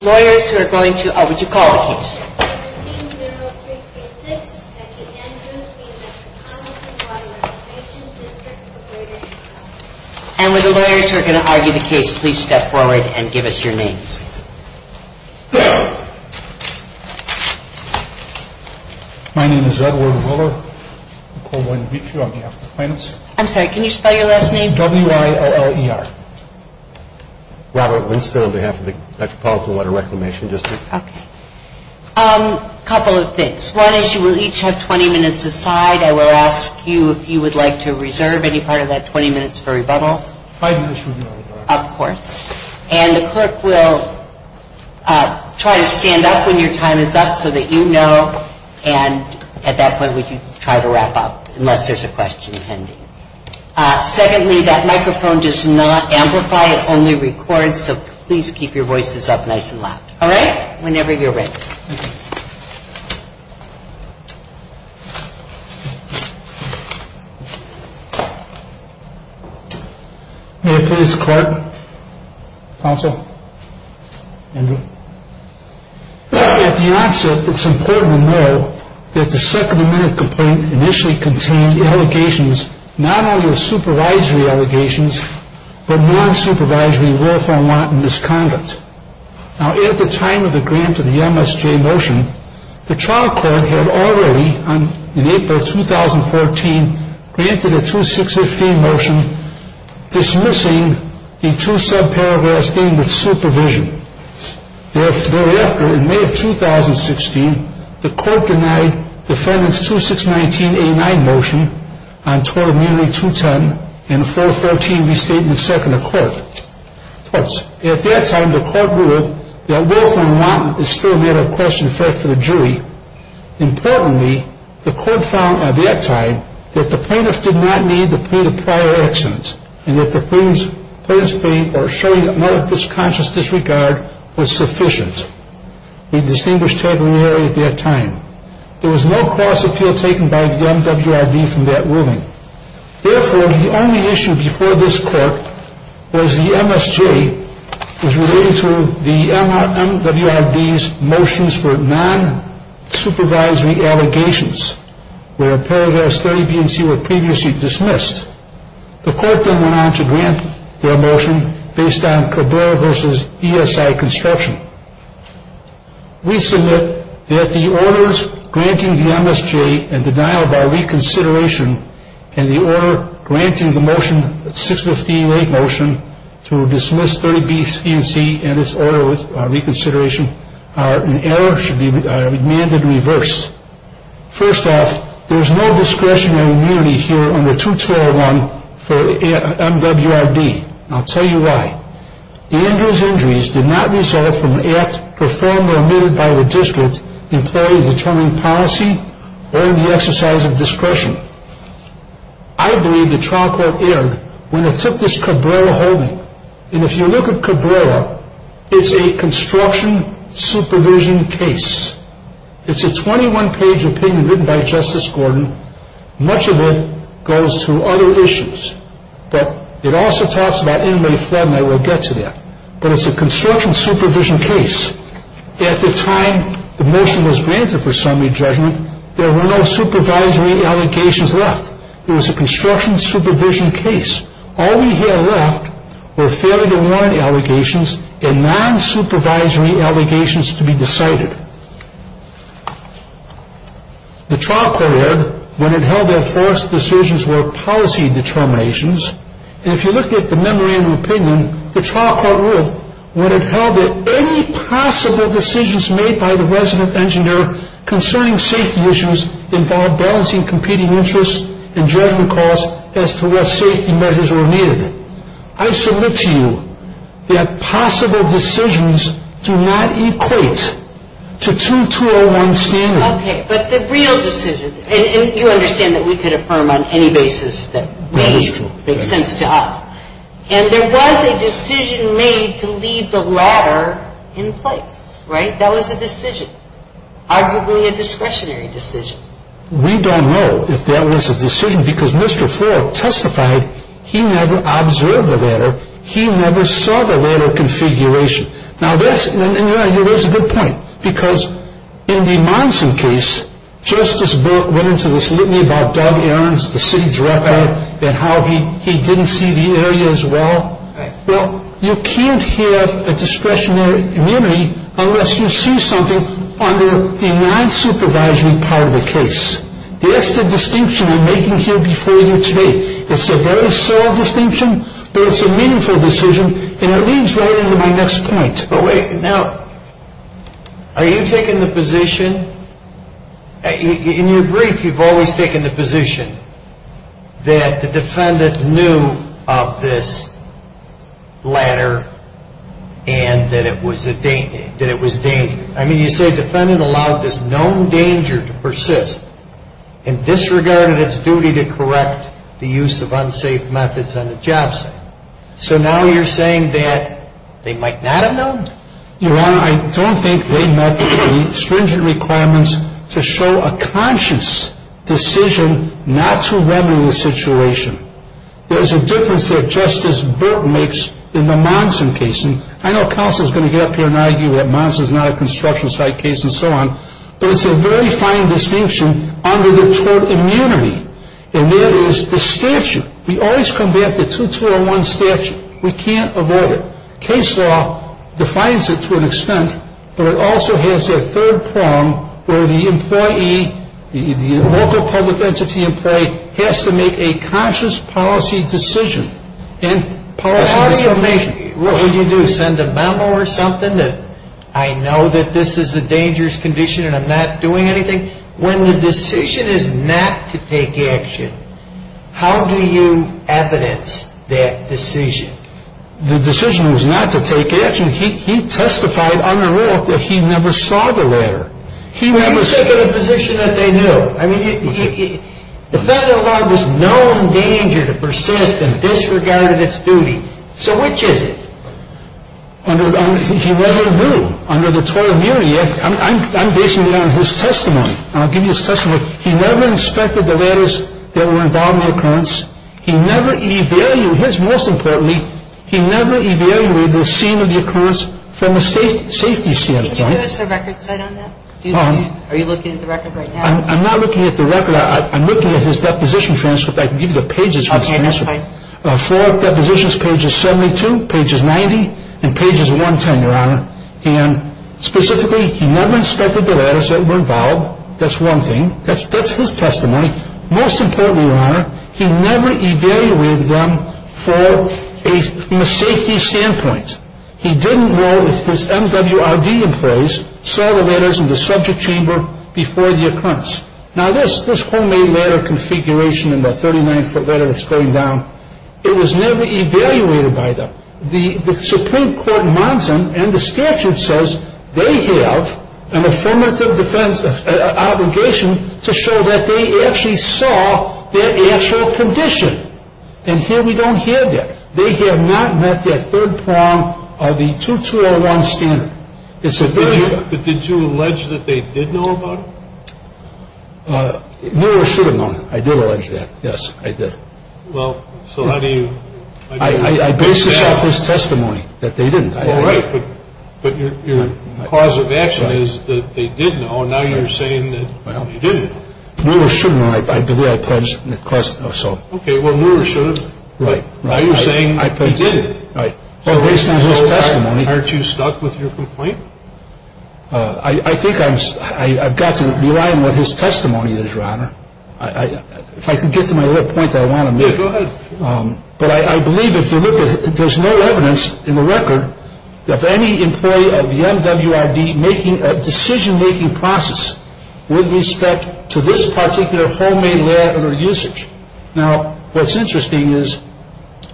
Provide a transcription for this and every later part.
Lawyers who are going to argue the case, please step forward and give us your names. My name is Edward Willer. I'm called to meet you on behalf of the clients. I'm sorry, can you spell your last name? W-I-O-L-E-R. Robert Winston on behalf of the Metropolitan Water Reclamation District. Okay. A couple of things. One is you will each have 20 minutes aside. I will ask you if you would like to reserve any part of that 20 minutes for rebuttal. Five minutes would be all right. Of course. And the clerk will try to stand up when your time is up so that you know, and at that point we can try to wrap up unless there's a question pending. Secondly, that microphone does not amplify, it only records, so please keep your voices up nice and loud. All right? Whenever you're ready. May I please, clerk? Counsel? Andrew? At the onset, it's important to know that the second amendment complaint initially contained allegations, not only of supervisory allegations, but non-supervisory lawful wanton misconduct. Now, at the time of the grant of the MSJ motion, the trial court had already, in April 2014, granted a 2-6-15 motion dismissing the two subparagraphs deemed with supervision. Thereafter, in May of 2016, the court denied defendant's 2-6-19-A-9 motion on tort immunity 2-10 in a 4-14 restatement seconded to court. At that time, the court ruled that lawful and wanton is still a matter of question for the jury. Importantly, the court found at that time that the plaintiff did not need to plead a prior accident and that the plaintiff's plea or showing another conscious disregard was sufficient. We distinguished tabularity at that time. There was no cross appeal taken by the MWRB from that ruling. Therefore, the only issue before this court was the MSJ was related to the MWRB's motions for non-supervisory allegations where paragraphs 30B and C were previously dismissed. The court then went on to grant their motion based on cabal versus ESI construction. We submit that the orders granting the MSJ and denial by reconsideration and the order granting the motion, 6-15-8 motion, to dismiss 30B and C and its order with reconsideration, an error should be demanded reversed. First off, there is no discretionary immunity here under 2-201 for MWRB. I'll tell you why. Andrew's injuries did not result from an act performed or omitted by the district in play in determining policy or in the exercise of discretion. I believe the trial court erred when it took this Cabrera holding. And if you look at Cabrera, it's a construction supervision case. It's a 21-page opinion written by Justice Gordon. Much of it goes to other issues. But it also talks about inmate fraud, and I will get to that. But it's a construction supervision case. At the time the motion was granted for summary judgment, there were no supervisory allegations left. It was a construction supervision case. All we had left were failure-to-warrant allegations and non-supervisory allegations to be decided. The trial court erred when it held that forced decisions were policy determinations. And if you look at the memorandum opinion, the trial court ruled when it held that any possible decisions made by the resident engineer concerning safety issues involved balancing competing interests and judgment costs as to what safety measures were needed. I submit to you that possible decisions do not equate to 2201 standards. Okay, but the real decision, and you understand that we could affirm on any basis that made sense to us. And there was a decision made to leave the latter in place, right? That was a decision, arguably a discretionary decision. We don't know if that was a decision, because Mr. Ford testified he never observed the latter. He never saw the latter configuration. Now, that's a good point, because in the Monson case, Justice Barrett went into this litany about dog errands the city dropped out and how he didn't see the area as well. Well, you can't have a discretionary immunity unless you see something under the non-supervisory part of the case. That's the distinction I'm making here before you today. It's a very solid distinction, but it's a meaningful decision, and it leads right into my next point. Now, are you taking the position, in your brief you've always taken the position that the defendant knew of this latter and that it was dangerous? I mean, you say defendant allowed this known danger to persist and disregarded its duty to correct the use of unsafe methods on the job site. So now you're saying that they might not have known? Your Honor, I don't think they met the stringent requirements to show a conscious decision not to remedy the situation. There's a difference that Justice Burt makes in the Monson case. I know counsel's going to get up here and argue that Monson's not a construction site case and so on, but it's a very fine distinction under the tort immunity, and that is the statute. We always come back to 2201 statute. We can't avoid it. Case law defines it to an extent, but it also has a third prong, where the employee, the local public entity employee, has to make a conscious policy decision. What do you do, send a memo or something that I know that this is a dangerous condition and I'm not doing anything? When the decision is not to take action, how do you evidence that decision? The decision was not to take action. He testified under law that he never saw the ladder. But he took a position that they knew. I mean, the federal law was known danger to persist and disregarded its duty. So which is it? He never knew under the tort immunity. I'm basing it on his testimony, and I'll give you his testimony. He never inspected the ladders that were involved in the occurrence. Most importantly, he never evaluated the scene of the occurrence from a safety standpoint. Can you give us a record set on that? Are you looking at the record right now? I'm not looking at the record. I'm looking at his deposition transcript. I can give you the pages. Okay, that's fine. Four depositions, pages 72, pages 90, and pages 110, Your Honor. And specifically, he never inspected the ladders that were involved. That's one thing. That's his testimony. Most importantly, Your Honor, he never evaluated them from a safety standpoint. He didn't know if his MWRD employees saw the ladders in the subject chamber before the occurrence. Now, this homemade ladder configuration in that 39-foot ladder that's going down, it was never evaluated by them. The Supreme Court demands them, and the statute says they have an affirmative defense obligation to show that they actually saw their actual condition. And here we don't hear that. They have not met their third prong of the 2201 standard. But did you allege that they did know about it? No, I should have known. I did allege that. Yes, I did. Well, so how do you? I based this off his testimony, that they didn't. Oh, right. But your cause of action is that they did know, and now you're saying that they didn't. Well, I should have known. I believe I pledged, so. Okay, well, you should have. Right. Now you're saying he didn't. Right. Well, based on his testimony. I think I've got to rely on what his testimony is, Your Honor. If I could get to my other point that I want to make. Go ahead. But I believe if you look at it, there's no evidence in the record of any employee of the MWRB making a decision-making process with respect to this particular homemade lab or usage. Now, what's interesting is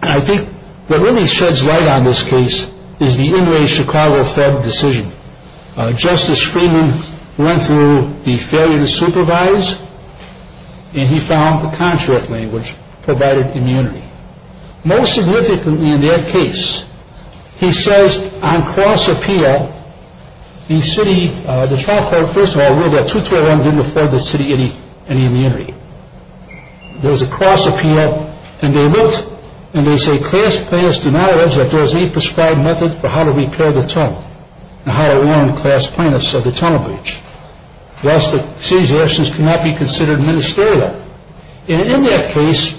I think what really sheds light on this case is the in-way Chicago-fed decision. Justice Freeman went through the failure to supervise, and he found the contract language provided immunity. Most significantly in that case, he says on cross-appeal, the city, the trial court, first of all, ruled that 221 didn't afford the city any immunity. There was a cross-appeal, and they looked, and they say, that there was a prescribed method for how to repair the tunnel and how to warn class plaintiffs of the tunnel breach. Thus, the city's actions cannot be considered ministerial. And in that case,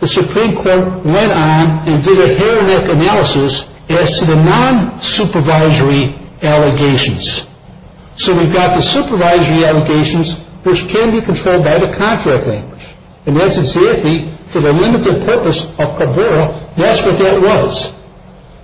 the Supreme Court went on and did a hair-and-neck analysis as to the non-supervisory allegations. So we've got the supervisory allegations, which can be controlled by the contract language. For the limited purpose of Cabrera, that's what that was.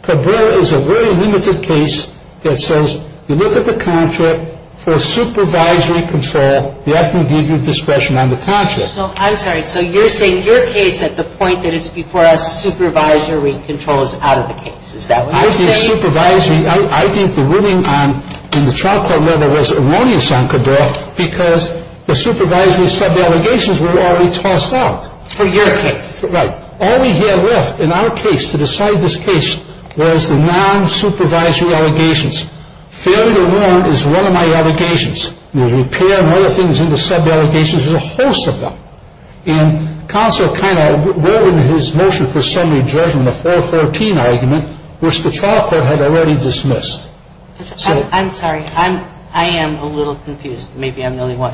Cabrera is a very limited case that says you look at the contract for supervisory control, they have to give you discretion on the contract. I'm sorry. So you're saying your case at the point that it's before us, supervisory control is out of the case. Is that what you're saying? I think supervisory, I think the ruling in the trial court letter was erroneous on Cabrera because the supervisory sub-allegations were already tossed out. For your case. Right. All we had left in our case to decide this case was the non-supervisory allegations. Failure to warn is one of my allegations. The repair and other things in the sub-allegations, there's a host of them. And counsel kind of wore his motion for summary judgment, the 414 argument, which the trial court had already dismissed. I'm sorry. I am a little confused. Maybe I'm the only one.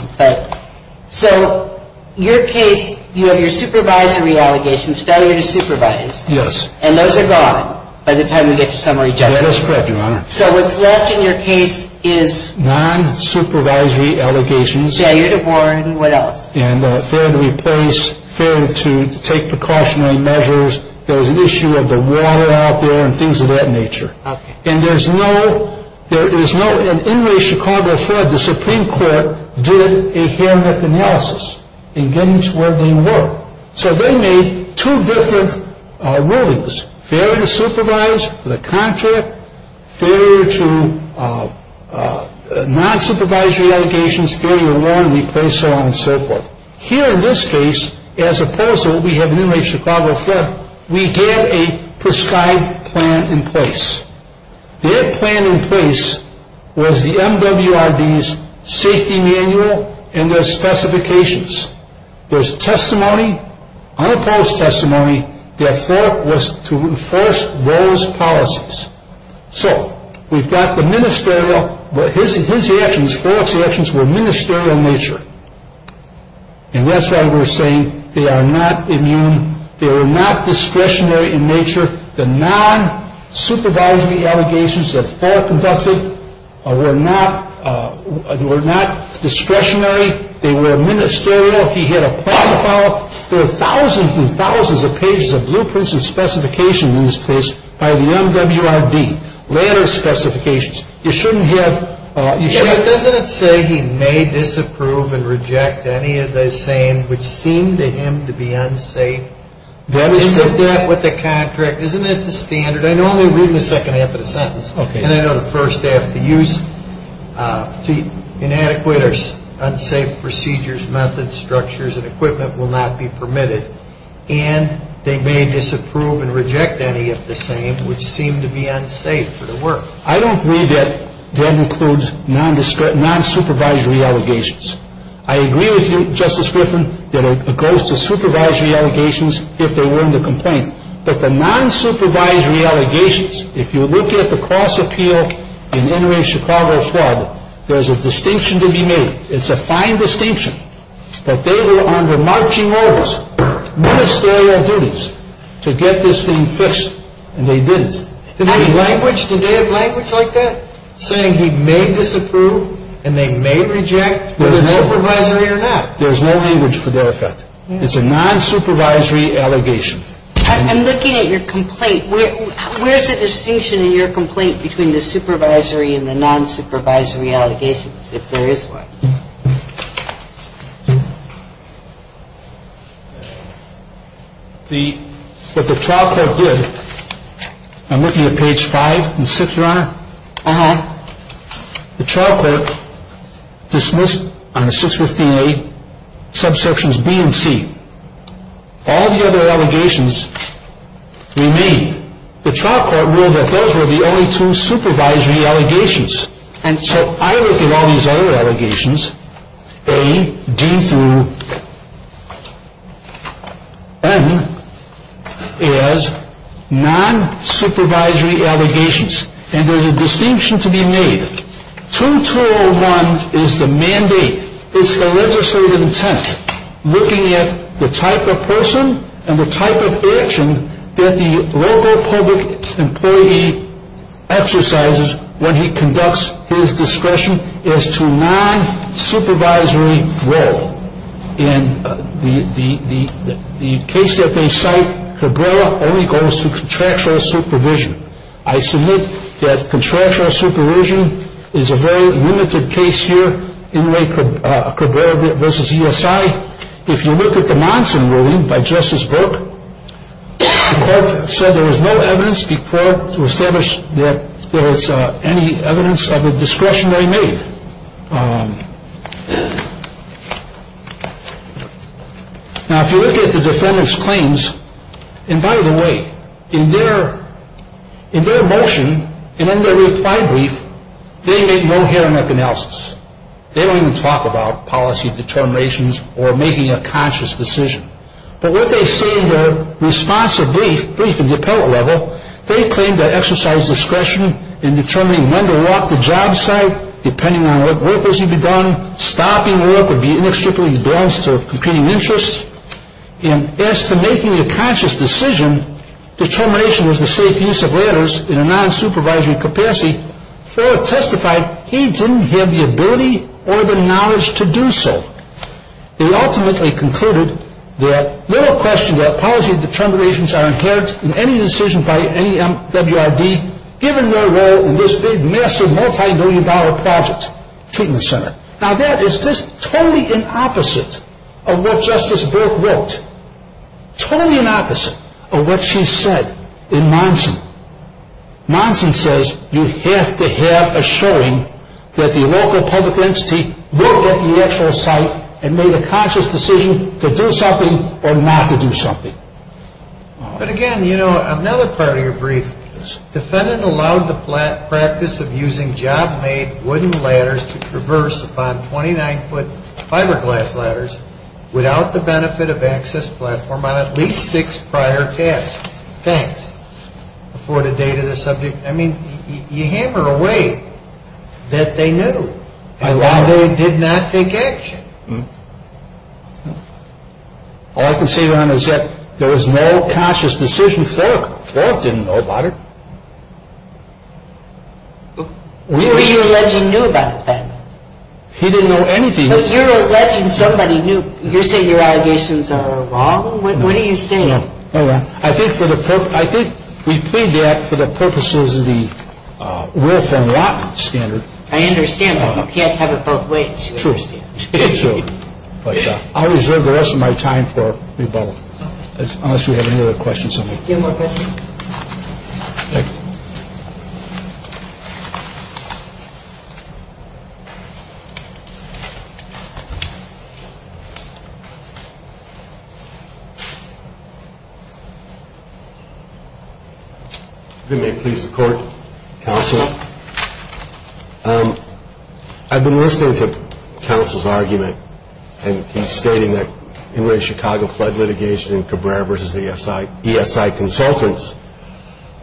So your case, you have your supervisory allegations, failure to supervise. Yes. And those are gone by the time we get to summary judgment. That is correct, Your Honor. So what's left in your case is... Non-supervisory allegations. Failure to warn. What else? Failure to replace, failure to take precautionary measures. There's an issue of the water out there and things of that nature. Okay. And there's no... There is no... In the Chicago fed, the Supreme Court did a handbook analysis in getting to where they were. So they made two different rulings, failure to supervise for the contract, failure to non-supervisory allegations, failure to warn, replace, so on and so forth. Here in this case, as opposed to what we have in the Chicago fed, we have a prescribed plan in place. Their plan in place was the MWRB's safety manual and their specifications. There's testimony, unopposed testimony, to enforce those policies. So we've got the ministerial... But his actions, Ford's actions were ministerial in nature. And that's why we're saying they are not immune. They were not discretionary in nature. The non-supervisory allegations that Ford conducted were not discretionary. They were ministerial. He had a plan to follow. There are thousands and thousands of pages of blueprints and specifications in this case by the MWRB, letter specifications. You shouldn't have... Isn't that what the contract... Isn't that the standard? I know I'm only reading the second half of the sentence. Okay. And I know the first half, to use inadequate or unsafe procedures, methods, structures, and equipment will not be permitted. And they may disapprove and reject any of the same, which seem to be unsafe for the work. I don't believe that that includes non-supervisory allegations. I agree with you, Justice Griffin, that it goes to supervisory allegations if they were in the complaint. But the non-supervisory allegations, if you look at the cross-appeal in Inouye, Chicago, Florida, there's a distinction to be made. It's a fine distinction. But they were under marching orders, ministerial duties, to get this thing fixed, and they didn't. Did they have language? Did they have language like that, saying he may disapprove and they may reject? Was it supervisory or not? There's no language for their effect. It's a non-supervisory allegation. I'm looking at your complaint. Where's the distinction in your complaint between the supervisory and the non-supervisory allegations, if there is one? What the trial court did, I'm looking at page 5 and 6, Your Honor, the trial court dismissed on the 615A subsections B and C. All the other allegations remain. The trial court ruled that those were the only two supervisory allegations. And so I look at all these other allegations, A, D through N, as non-supervisory allegations, and there's a distinction to be made. 2201 is the mandate. It's the legislative intent, looking at the type of person and the type of action that the local public employee exercises when he conducts his discretion as to non-supervisory role. In the case that they cite, Cabrera only goes to contractual supervision. I submit that contractual supervision is a very limited case here, Inmate Cabrera v. ESI. If you look at the Monson ruling by Justice Burke, the court said there was no evidence before to establish that there was any evidence of a discretionary maid. Now, if you look at the defendant's claims, and by the way, in their motion and in their reply brief, they make no hearing of analysis. They don't even talk about policy determinations or making a conscious decision. But what they say in their response to the brief in the appellate level, they claim to exercise discretion in determining when to walk the job site, depending on what work was to be done. Stopping work would be inextricably balanced to competing interests. And as to making a conscious decision, determination was the safe use of letters in a non-supervisory capacity, for it testified he didn't have the ability or the knowledge to do so. They ultimately concluded that little question that policy determinations are inherent in any decision by any MWRD, given their role in this big massive multi-million dollar project, treatment center. Now that is just totally in opposite of what Justice Burke wrote. Nonsense says you have to have a showing that the local public entity looked at the actual site and made a conscious decision to do something or not to do something. But again, you know, another part of your brief, defendant allowed the practice of using job made wooden ladders to traverse upon 29 foot fiberglass ladders without the benefit of access platform on at least six prior tasks. Thanks for the date of the subject. I mean, you hammer away that they knew. I love it. They did not take action. All I can say, Ron, is that there was no conscious decision. Thorpe didn't know about it. He didn't know anything. You're alleging somebody knew. You're saying your allegations are wrong. What are you saying? I think for the purpose, I think we plead that for the purposes of the will from law standard. I understand. You can't have it both ways. True. It's true. I reserve the rest of my time for the above. Unless you have any other questions. Give him more credit. Thank you. If it may please the court, counsel, I've been listening to counsel's argument and he's stating that Chicago flood litigation and Cabrera versus ESI consultants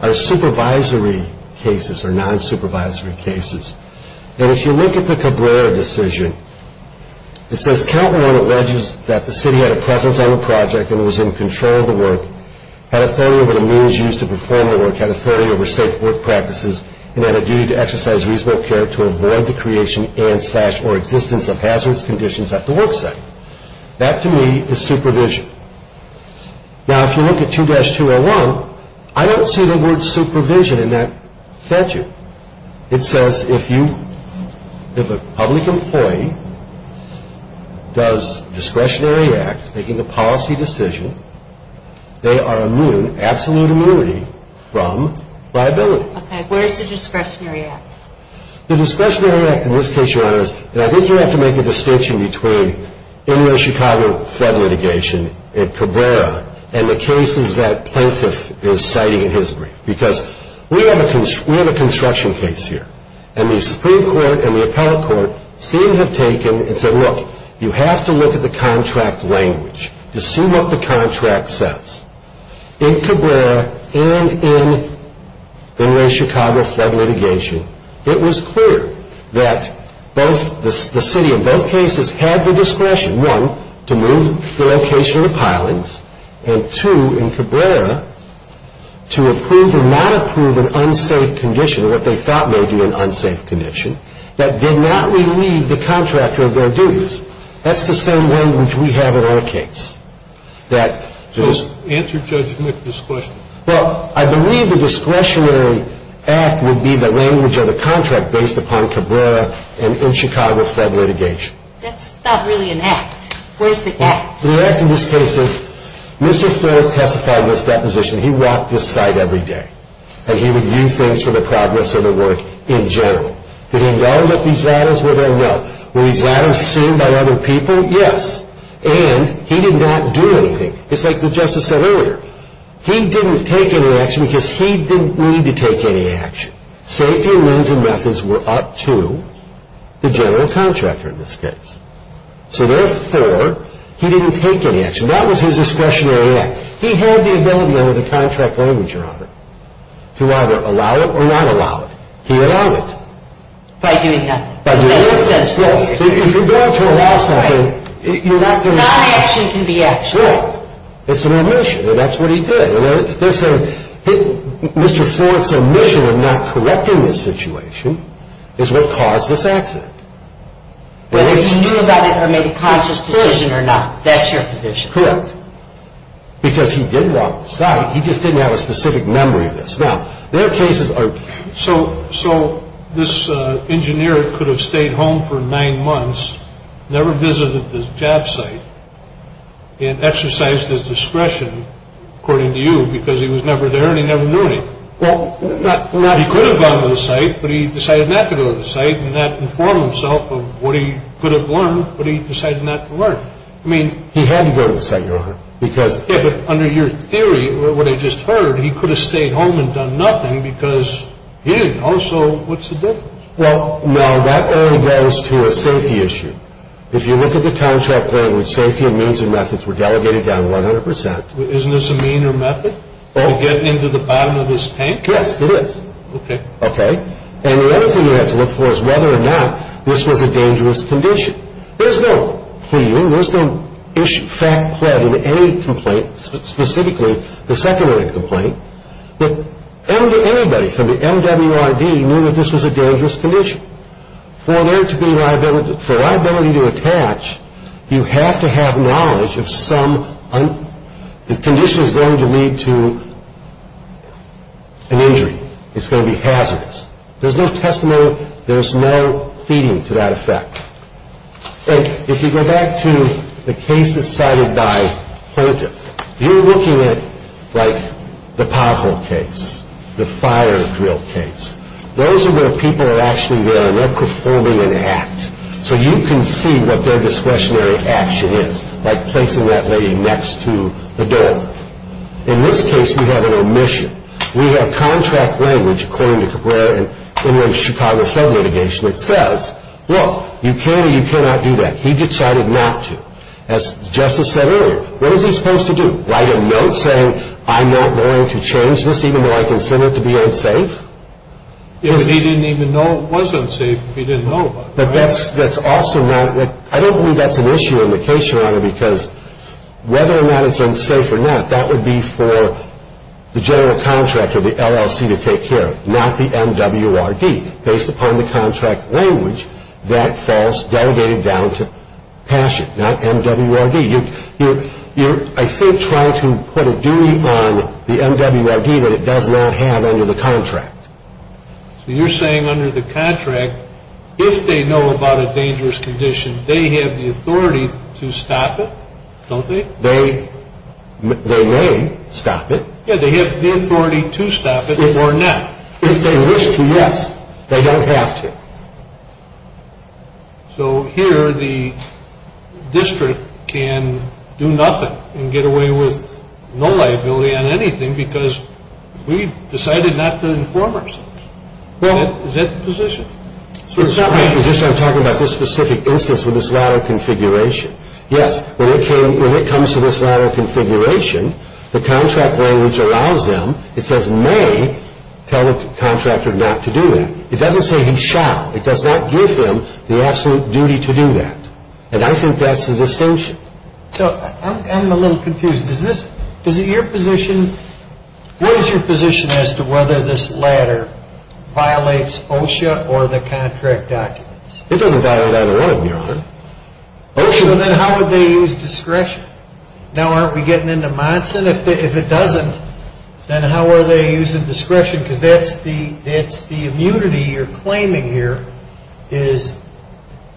are supervisory cases or non-supervisory cases. And if you look at the Cabrera decision, it says, count one alleges that the city had a presence on the project and was in control of the work, had authority over the means used to perform the work, had authority over safe work practices, and had a duty to exercise reasonable care to avoid the creation and slash or existence of hazardous conditions at the work site. That, to me, is supervision. Now, if you look at 2-201, I don't see the word supervision in that statute. It says if you, if a public employee does discretionary acts, making a policy decision, they are immune, absolute immunity from liability. Okay, where's the discretionary act? The discretionary act in this case, Your Honors, and I think you have to make a distinction between interstate Chicago flood litigation at Cabrera and the cases that plaintiff is citing in his brief. Because we have a construction case here. And the Supreme Court and the Appellate Court seem to have taken and said, look, you have to look at the contract language to see what the contract says. In Cabrera and in interstate Chicago flood litigation, it was clear that both the city in both cases had the discretion, one, to move the location of the pilings, and two, in Cabrera, to approve or not approve an unsafe condition, or what they thought may be an unsafe condition, that did not relieve the contractor of their duties. That's the same language we have in our case. Answer Judge Mc this question. Well, I believe the discretionary act would be the language of the contract based upon Cabrera and in Chicago flood litigation. That's not really an act. Where's the act? The act in this case is Mr. Ford testified in this deposition. He walked this site every day. And he would view things for the progress of the work in general. Did he know that these ladders were there? No. Were these ladders seen by other people? Yes. And he did not do anything. It's like the justice said earlier. He didn't take any action because he didn't need to take any action. Safety and means and methods were up to the general contractor in this case. So therefore, he didn't take any action. That was his discretionary act. He had the ability under the contract language, Your Honor, to either allow it or not allow it. He allowed it. By doing nothing. By doing nothing. If you're going to allow something, you're not going to stop. Non-action can be action. Right. It's an omission, and that's what he did. Mr. Ford's omission of not correcting this situation is what caused this accident. Whether he knew about it or made a conscious decision or not, that's your position. Correct. Because he did walk the site. He just didn't have a specific memory of this. So this engineer could have stayed home for nine months, never visited this job site, and exercised his discretion, according to you, because he was never there and he never knew it. He could have gone to the site, but he decided not to go to the site and not inform himself of what he could have learned, but he decided not to learn. He had to go to the site, Your Honor. Yeah, but under your theory, what I just heard, he could have stayed home and done nothing because he didn't know, so what's the difference? Well, no, that only goes to a safety issue. If you look at the contract language, safety and means and methods were delegated down 100%. Isn't this a mean or method to get into the bottom of this tank? Yes, it is. Okay. Okay. And the other thing you have to look for is whether or not this was a dangerous condition. There's no pleading, there's no fact-pleading in any complaint, specifically the secondary complaint, that anybody from the MWRD knew that this was a dangerous condition. For liability to attach, you have to have knowledge of some, the condition is going to lead to an injury, it's going to be hazardous. There's no testimony, there's no feeding to that effect. And if you go back to the cases cited by plaintiff, you're looking at, like, the pothole case, the fire drill case. Those are where people are actually there and they're performing an act. So you can see what their discretionary action is, like placing that lady next to the door. In this case, we have an omission. We have contract language, according to the Chicago fed litigation, that says, look, you can or you cannot do that. He decided not to. As Justice said earlier, what is he supposed to do, write a note saying, I'm not going to change this even though I consider it to be unsafe? If he didn't even know it was unsafe, if he didn't know about it. But that's also not, I don't believe that's an issue in the case, Your Honor, because whether or not it's unsafe or not, that would be for the general contractor, the LLC, to take care of, not the MWRD. Based upon the contract language, that falls, delegated down to passion, not MWRD. You're, I think, trying to put a duty on the MWRD that it does not have under the contract. So you're saying under the contract, if they know about a dangerous condition, they have the authority to stop it, don't they? They may stop it. Yeah, they have the authority to stop it or not. If they wish to, yes, they don't have to. So here, the district can do nothing and get away with no liability on anything because we decided not to inform ourselves. Is that the position? It's not my position. I'm talking about this specific instance with this lot of configuration. Yes, when it comes to this lot of configuration, the contract language allows them, it says may, tell the contractor not to do that. It doesn't say he shall. It does not give him the absolute duty to do that. And I think that's the distinction. So I'm a little confused. What is your position as to whether this ladder violates OSHA or the contract documents? It doesn't violate either one of them, Your Honor. So then how would they use discretion? Now, aren't we getting into Monson? If it doesn't, then how are they using discretion because that's the immunity you're claiming here is discretion.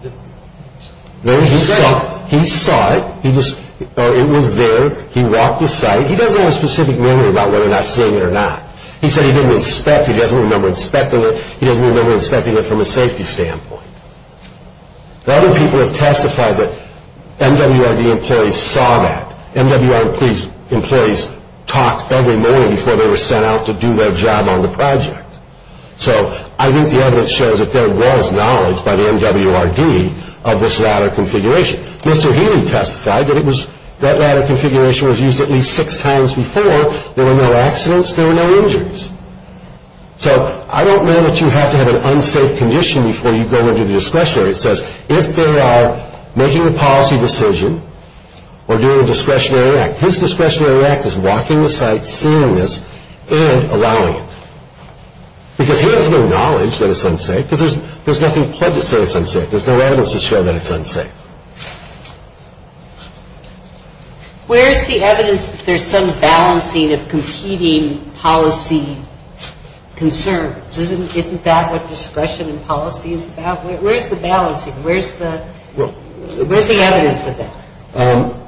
He saw it. It was there. He walked the site. He doesn't have a specific memory about whether or not seeing it or not. He said he didn't inspect. He doesn't remember inspecting it. He doesn't remember inspecting it from a safety standpoint. The other people have testified that MWRD employees saw that. MWRD employees talk every morning before they were sent out to do their job on the project. So I think the evidence shows that there was knowledge by the MWRD of this ladder configuration. Mr. Healy testified that that ladder configuration was used at least six times before. There were no accidents. There were no injuries. So I don't know that you have to have an unsafe condition before you go into the discretionary. It says if there are making a policy decision or doing a discretionary act, his discretionary act is walking the site, seeing this, and allowing it because he has no knowledge that it's unsafe because there's nothing pledged to say it's unsafe. There's no evidence to show that it's unsafe. Where is the evidence that there's some balancing of competing policy concerns? Isn't that what discretion and policy is about? Where's the balancing? Where's the evidence of that?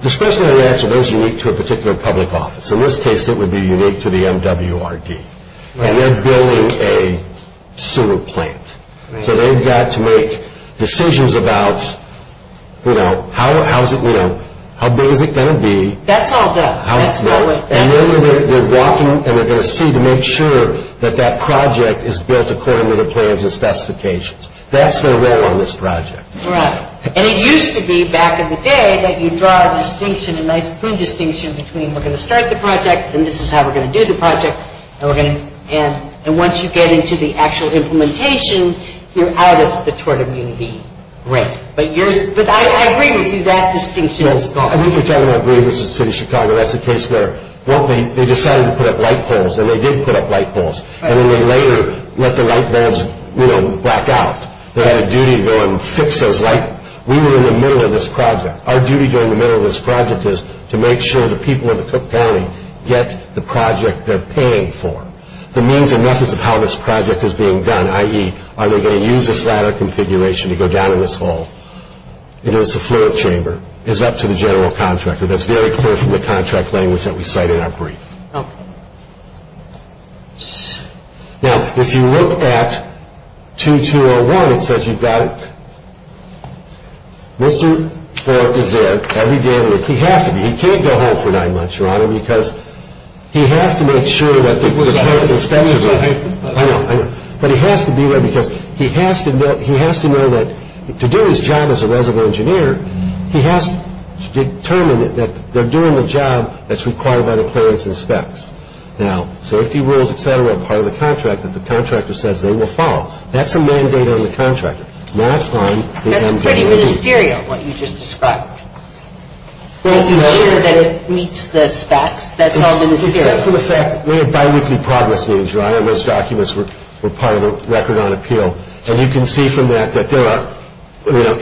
Discretionary acts are those unique to a particular public office. In this case, it would be unique to the MWRD. And they're building a sewer plant. So they've got to make decisions about how big is it going to be. That's all done. And then they're walking and they're going to see to make sure that that project is built according to the plans and specifications. That's their role on this project. All right. And it used to be back in the day that you draw a distinction, a nice clean distinction, between we're going to start the project and this is how we're going to do the project. And once you get into the actual implementation, you're out of the tort immunity. Right. But I agree with you. That distinction is gone. I think what you're talking about is the City of Chicago. That's the case there. Well, they decided to put up light poles, and they did put up light poles. And then they later let the light bulbs, you know, black out. They had a duty to go and fix those light bulbs. We were in the middle of this project. Our duty during the middle of this project is to make sure the people in the Cook County get the project they're paying for. The means and methods of how this project is being done, i.e., are they going to use this ladder configuration to go down in this hole? It is the floor chamber. It is up to the general contractor. That's very clear from the contract language that we cite in our brief. Okay. Now, if you look at 2201, it says you've got Mr. Fort is there every day of the week. He has to be. He can't go home for nine months, Your Honor, because he has to make sure that the clearance and specs are there. I know. I know. But he has to be there because he has to know that to do his job as a resident engineer, he has to determine that they're doing the job that's required by the clearance and specs. Now, so if the rules, et cetera, are part of the contract that the contractor says they will follow, that's a mandate on the contractor, not on the MDO. That's pretty ministerial, what you just described. Making sure that it meets the specs, that's all ministerial. Except for the fact that we have biweekly progress meetings, Your Honor, and those documents were part of the record on appeal. And you can see from that that there are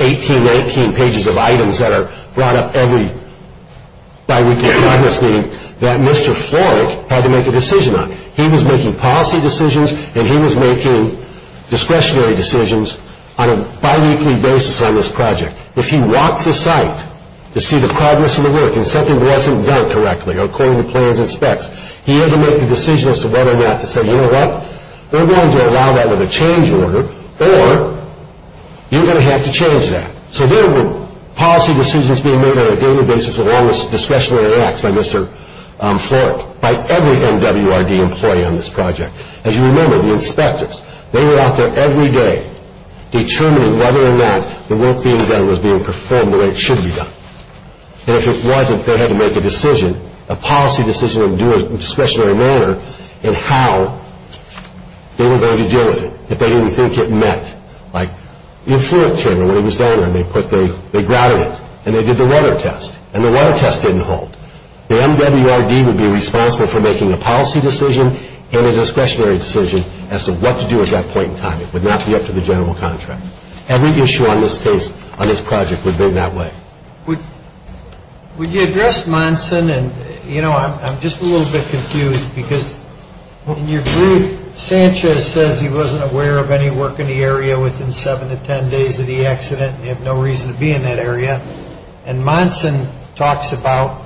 18, 19 pages of items that are brought up every biweekly progress meeting that Mr. Florek had to make a decision on. He was making policy decisions and he was making discretionary decisions on a biweekly basis on this project. If he walked the site to see the progress of the work and something wasn't done correctly according to plans and specs, he had to make the decision as to whether or not to say, you know what, we're going to allow that with a change order or you're going to have to change that. So there were policy decisions being made on a daily basis along with discretionary acts by Mr. Florek, by every MWRD employee on this project. As you remember, the inspectors, they were out there every day determining whether or not the work being done was being performed the way it should be done. And if it wasn't, they had to make a decision, a policy decision in a discretionary manner in how they were going to deal with it, if they didn't think it met. Like the Florek Chamber, when he was down there, they grouted it and they did the weather test and the weather test didn't hold. The MWRD would be responsible for making a policy decision and a discretionary decision as to what to do at that point in time. It would not be up to the general contract. Every issue on this case, on this project, would be that way. Would you address Monson and, you know, I'm just a little bit confused because in your brief, Sanchez says he wasn't aware of any work in the area within seven to ten days of the accident and he had no reason to be in that area. And Monson talks about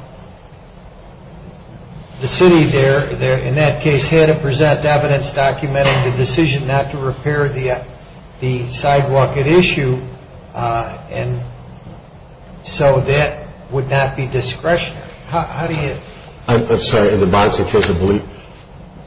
the city there, in that case, had to present evidence documenting the decision not to repair the sidewalk at issue and so that would not be discretionary. How do you... I'm sorry, in the Monson case,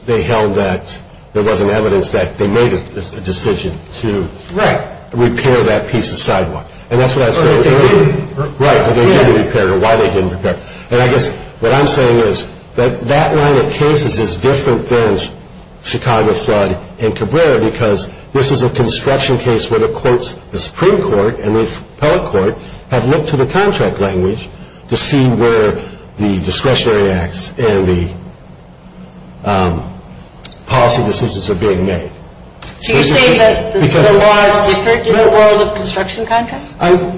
they held that there wasn't evidence that they made a decision to... Right. ...repair that piece of sidewalk. And that's what I said earlier. Right, why they didn't repair it. And I guess what I'm saying is that that line of cases is different than Chicago flood and Cabrera because this is a construction case where the courts, the Supreme Court and the Appellate Court, have looked to the contract language to see where the discretionary acts and the policy decisions are being made. So you're saying that the law is different in the world of construction contracts?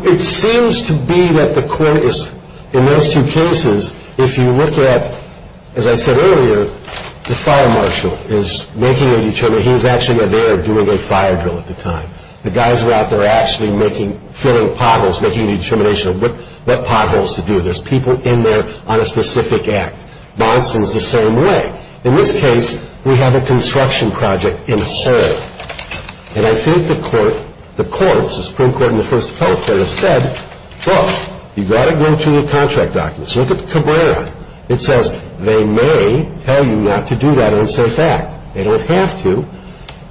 It seems to be that the court is... In those two cases, if you look at, as I said earlier, the fire marshal is making a determination. He was actually there doing a fire drill at the time. The guys were out there actually making, filling potholes, making a determination of what potholes to do. There's people in there on a specific act. Monson's the same way. In this case, we have a construction project in whole. And I think the court, the courts, the Supreme Court and the First Appellate Court have said, look, you've got to go through the contract documents. Look at Cabrera. It says they may tell you not to do that unsafe act. They don't have to.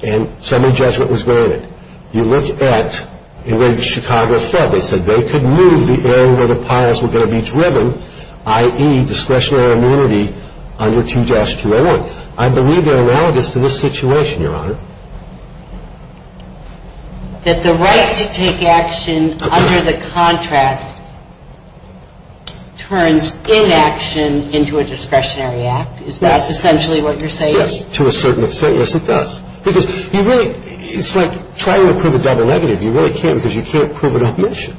And some of the judgment was granted. You look at where Chicago fell. They said they could move the area where the piles were going to be driven, i.e. discretionary immunity under 2-201. I believe they're analogous to this situation, Your Honor. That the right to take action under the contract turns inaction into a discretionary act? Is that essentially what you're saying? Yes, to a certain extent. Yes, it does. Because you really, it's like trying to prove a double negative. You really can't because you can't prove an omission.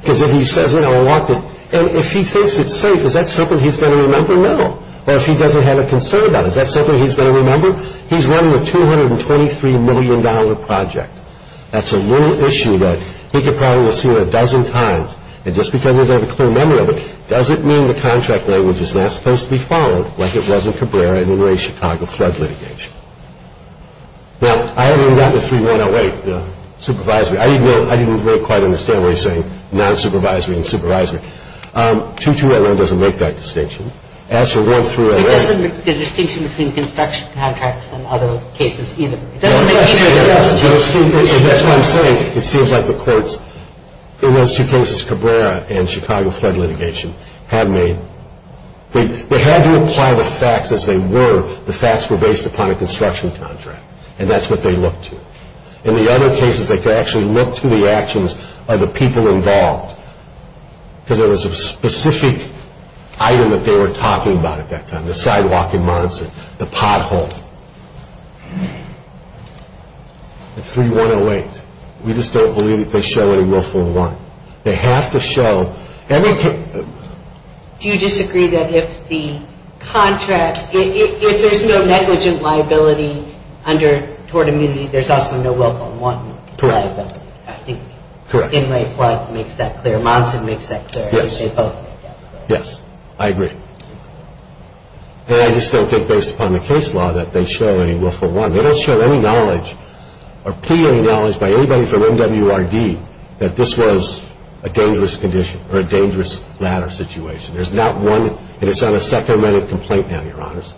Because if he says, you know, I walked in, and if he thinks it's safe, is that something he's going to remember? No. Or if he doesn't have a concern about it, is that something he's going to remember? He's running a $223 million project. That's a little issue that he could probably have seen a dozen times. And just because he doesn't have a clear memory of it doesn't mean the contract language is not supposed to be followed like it was in Cabrera and in Ray's Chicago flood litigation. Now, I haven't read the 3108, the supervisory. I didn't really quite understand what he's saying, non-supervisory and supervisory. 2-2111 doesn't make that distinction. As for 1-3111. It doesn't make the distinction between construction contracts and other cases either. It doesn't make the distinction. That's what I'm saying. It seems like the courts in those two cases, Cabrera and Chicago flood litigation, have made. They had to apply the facts as they were. The facts were based upon a construction contract, and that's what they looked to. In the other cases, they could actually look to the actions of the people involved because there was a specific item that they were talking about at that time, the sidewalk in Monson, the pothole. The 3108. We just don't believe that they show any willful want. They have to show. Do you disagree that if the contract, if there's no negligent liability toward immunity, there's also no willful want? Correct. I think Thinley flood makes that clear. Monson makes that clear. Yes. Yes, I agree. And I just don't think based upon the case law that they show any willful want. They don't show any knowledge or plead any knowledge by anybody from MWRD that this was a dangerous condition or a dangerous ladder situation. There's not one, and it's on a second amendment complaint now, Your Honors.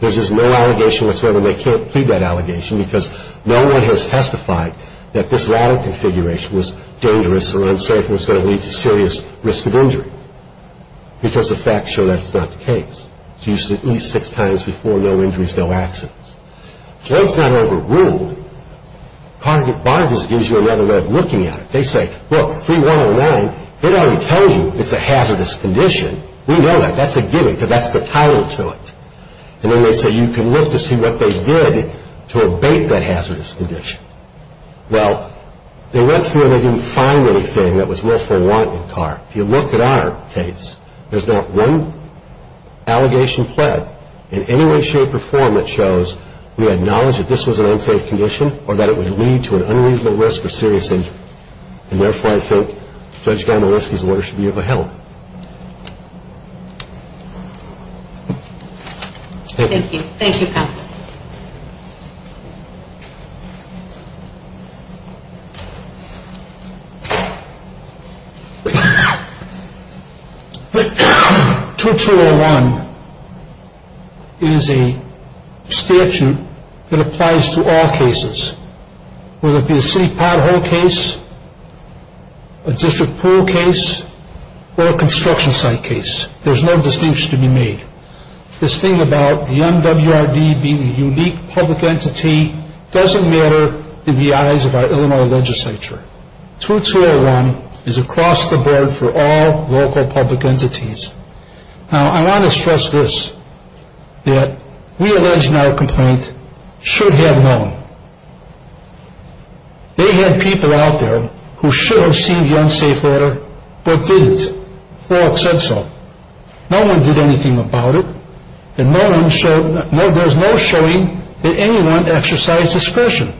There's just no allegation whatsoever, and they can't plead that allegation because no one has testified that this ladder configuration was dangerous or unsafe and was going to lead to serious risk of injury because the facts show that's not the case. It's used at least six times before, no injuries, no accidents. Flood's not overruled. Cargate Bargains gives you another way of looking at it. They say, look, 3109, it already tells you it's a hazardous condition. We know that. That's a given because that's the title to it. And then they say you can look to see what they did to abate that hazardous condition. Well, they went through and they didn't find anything that was willful want in the car. If you look at our case, there's not one allegation pled. In any way, shape, or form, it shows we acknowledge that this was an unsafe condition or that it would lead to an unreasonable risk of serious injury. And therefore, I think Judge Gamowitski's order should be upheld. Thank you. Thank you, counsel. Thank you. 2201 is a statute that applies to all cases, whether it be a city pothole case, a district pool case, or a construction site case. There's no distinction to be made. This thing about the MWRD being a unique public entity doesn't matter in the eyes of our Illinois legislature. 2201 is across the board for all local public entities. Now, I want to stress this, that we allege in our complaint should have known. They had people out there who should have seen the unsafe letter but didn't. We allege that. The reason I'm saying this is because Judge Folk said so. No one did anything about it, and there's no showing that anyone exercised discretion.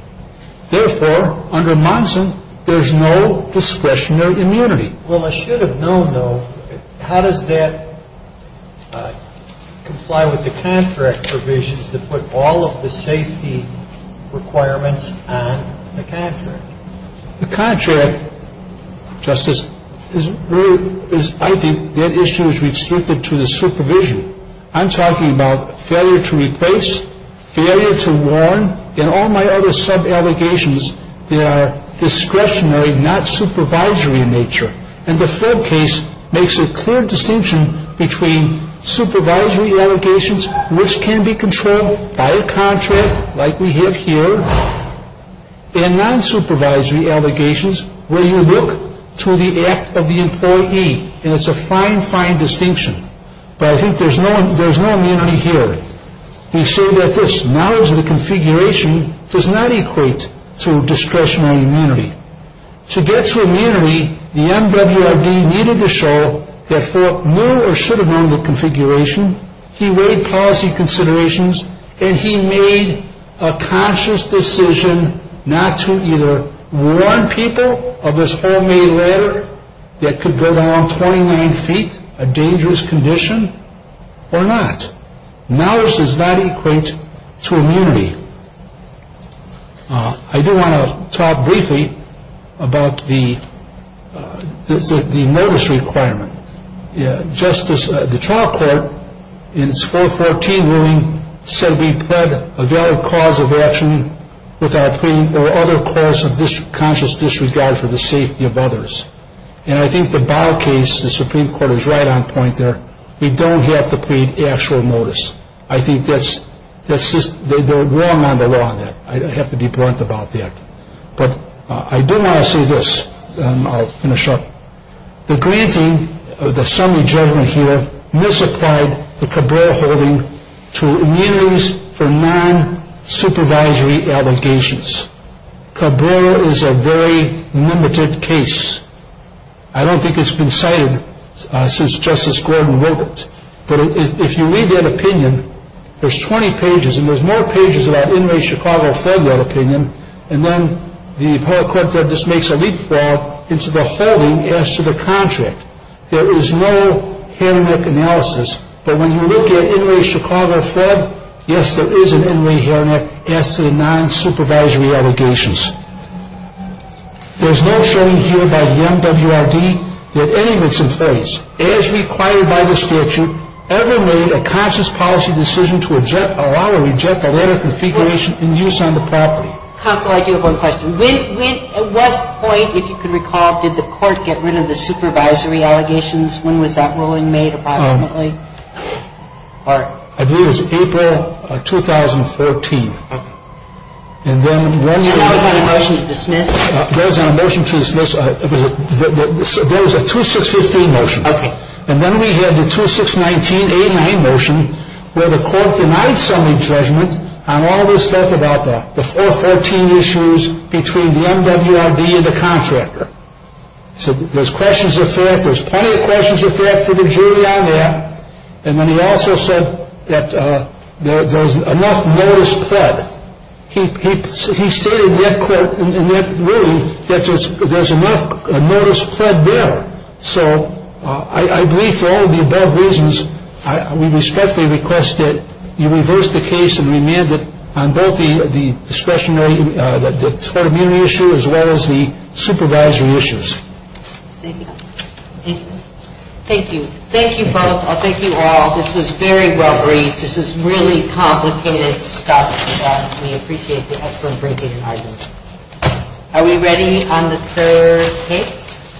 Therefore, under Monson, there's no discretion or immunity. Well, I should have known, though. How does that comply with the contract provisions that put all of the safety requirements on the contract? The contract, Justice, I think that issue is restricted to the supervision. I'm talking about failure to replace, failure to warn, and all my other sub-allegations that are discretionary, not supervisory in nature. And the Folk case makes a clear distinction between supervisory allegations, which can be controlled by a contract like we have here, and non-supervisory allegations where you look to the act of the employee, and it's a fine, fine distinction. But I think there's no immunity here. We say that this knowledge of the configuration does not equate to discretionary immunity. To get to immunity, the MWRD needed to show that Folk knew or should have known the configuration, he weighed policy considerations, and he made a conscious decision not to either warn people of this homemade ladder that could go down 29 feet, a dangerous condition, or not. Knowledge does not equate to immunity. I do want to talk briefly about the notice requirement. Justice, the trial court in its 414 ruling said we pled a valid cause of action without pleading or other cause of conscious disregard for the safety of others. And I think the Bow case, the Supreme Court is right on point there. We don't have to plead actual notice. I think they're wrong on the law on that. I have to be blunt about that. But I do want to say this, and I'll finish up. The granting of the summary judgment here misapplied the Cabrera holding to immunities for non-supervisory allegations. Cabrera is a very limited case. I don't think it's been cited since Justice Gordon wrote it. But if you read that opinion, there's 20 pages, and there's more pages about Inouye, Chicago, Fred, that opinion, and then the appellate court said this makes a leapfrog into the holding as to the contract. There is no hair and neck analysis. But when you look at Inouye, Chicago, Fred, yes, there is an Inouye hair and neck as to the non-supervisory allegations. There's no showing here by the MWRD that any of it's in place. whether any of the non-supervisory allegations as required by the statute ever made a conscious policy decision to allow or reject the letter of configuration in use on the property. Counsel, I do have one question. At what point, if you can recall, did the court get rid of the supervisory allegations? When was that ruling made approximately? I believe it was April of 2014. Okay. And then one year later. Was there a motion to dismiss? There was a motion to dismiss. There was a 2615 motion. Okay. And then we had the 2619A9 motion where the court denied summary judgment on all of the stuff about that, the 414 issues between the MWRD and the contractor. So there's questions of fact. There's plenty of questions of fact for the jury on that. And then he also said that there's enough notice pled. He stated in that ruling that there's enough notice pled there. So I believe for all of the above reasons, we respectfully request that you reverse the case and remand it on both the discretionary, the tortimony issue as well as the supervisory issues. Thank you. Thank you. Thank you. Thank you both. Thank you all. This was very well briefed. This is really complicated stuff. We appreciate the excellent breaking and arguing. Are we ready on the third case?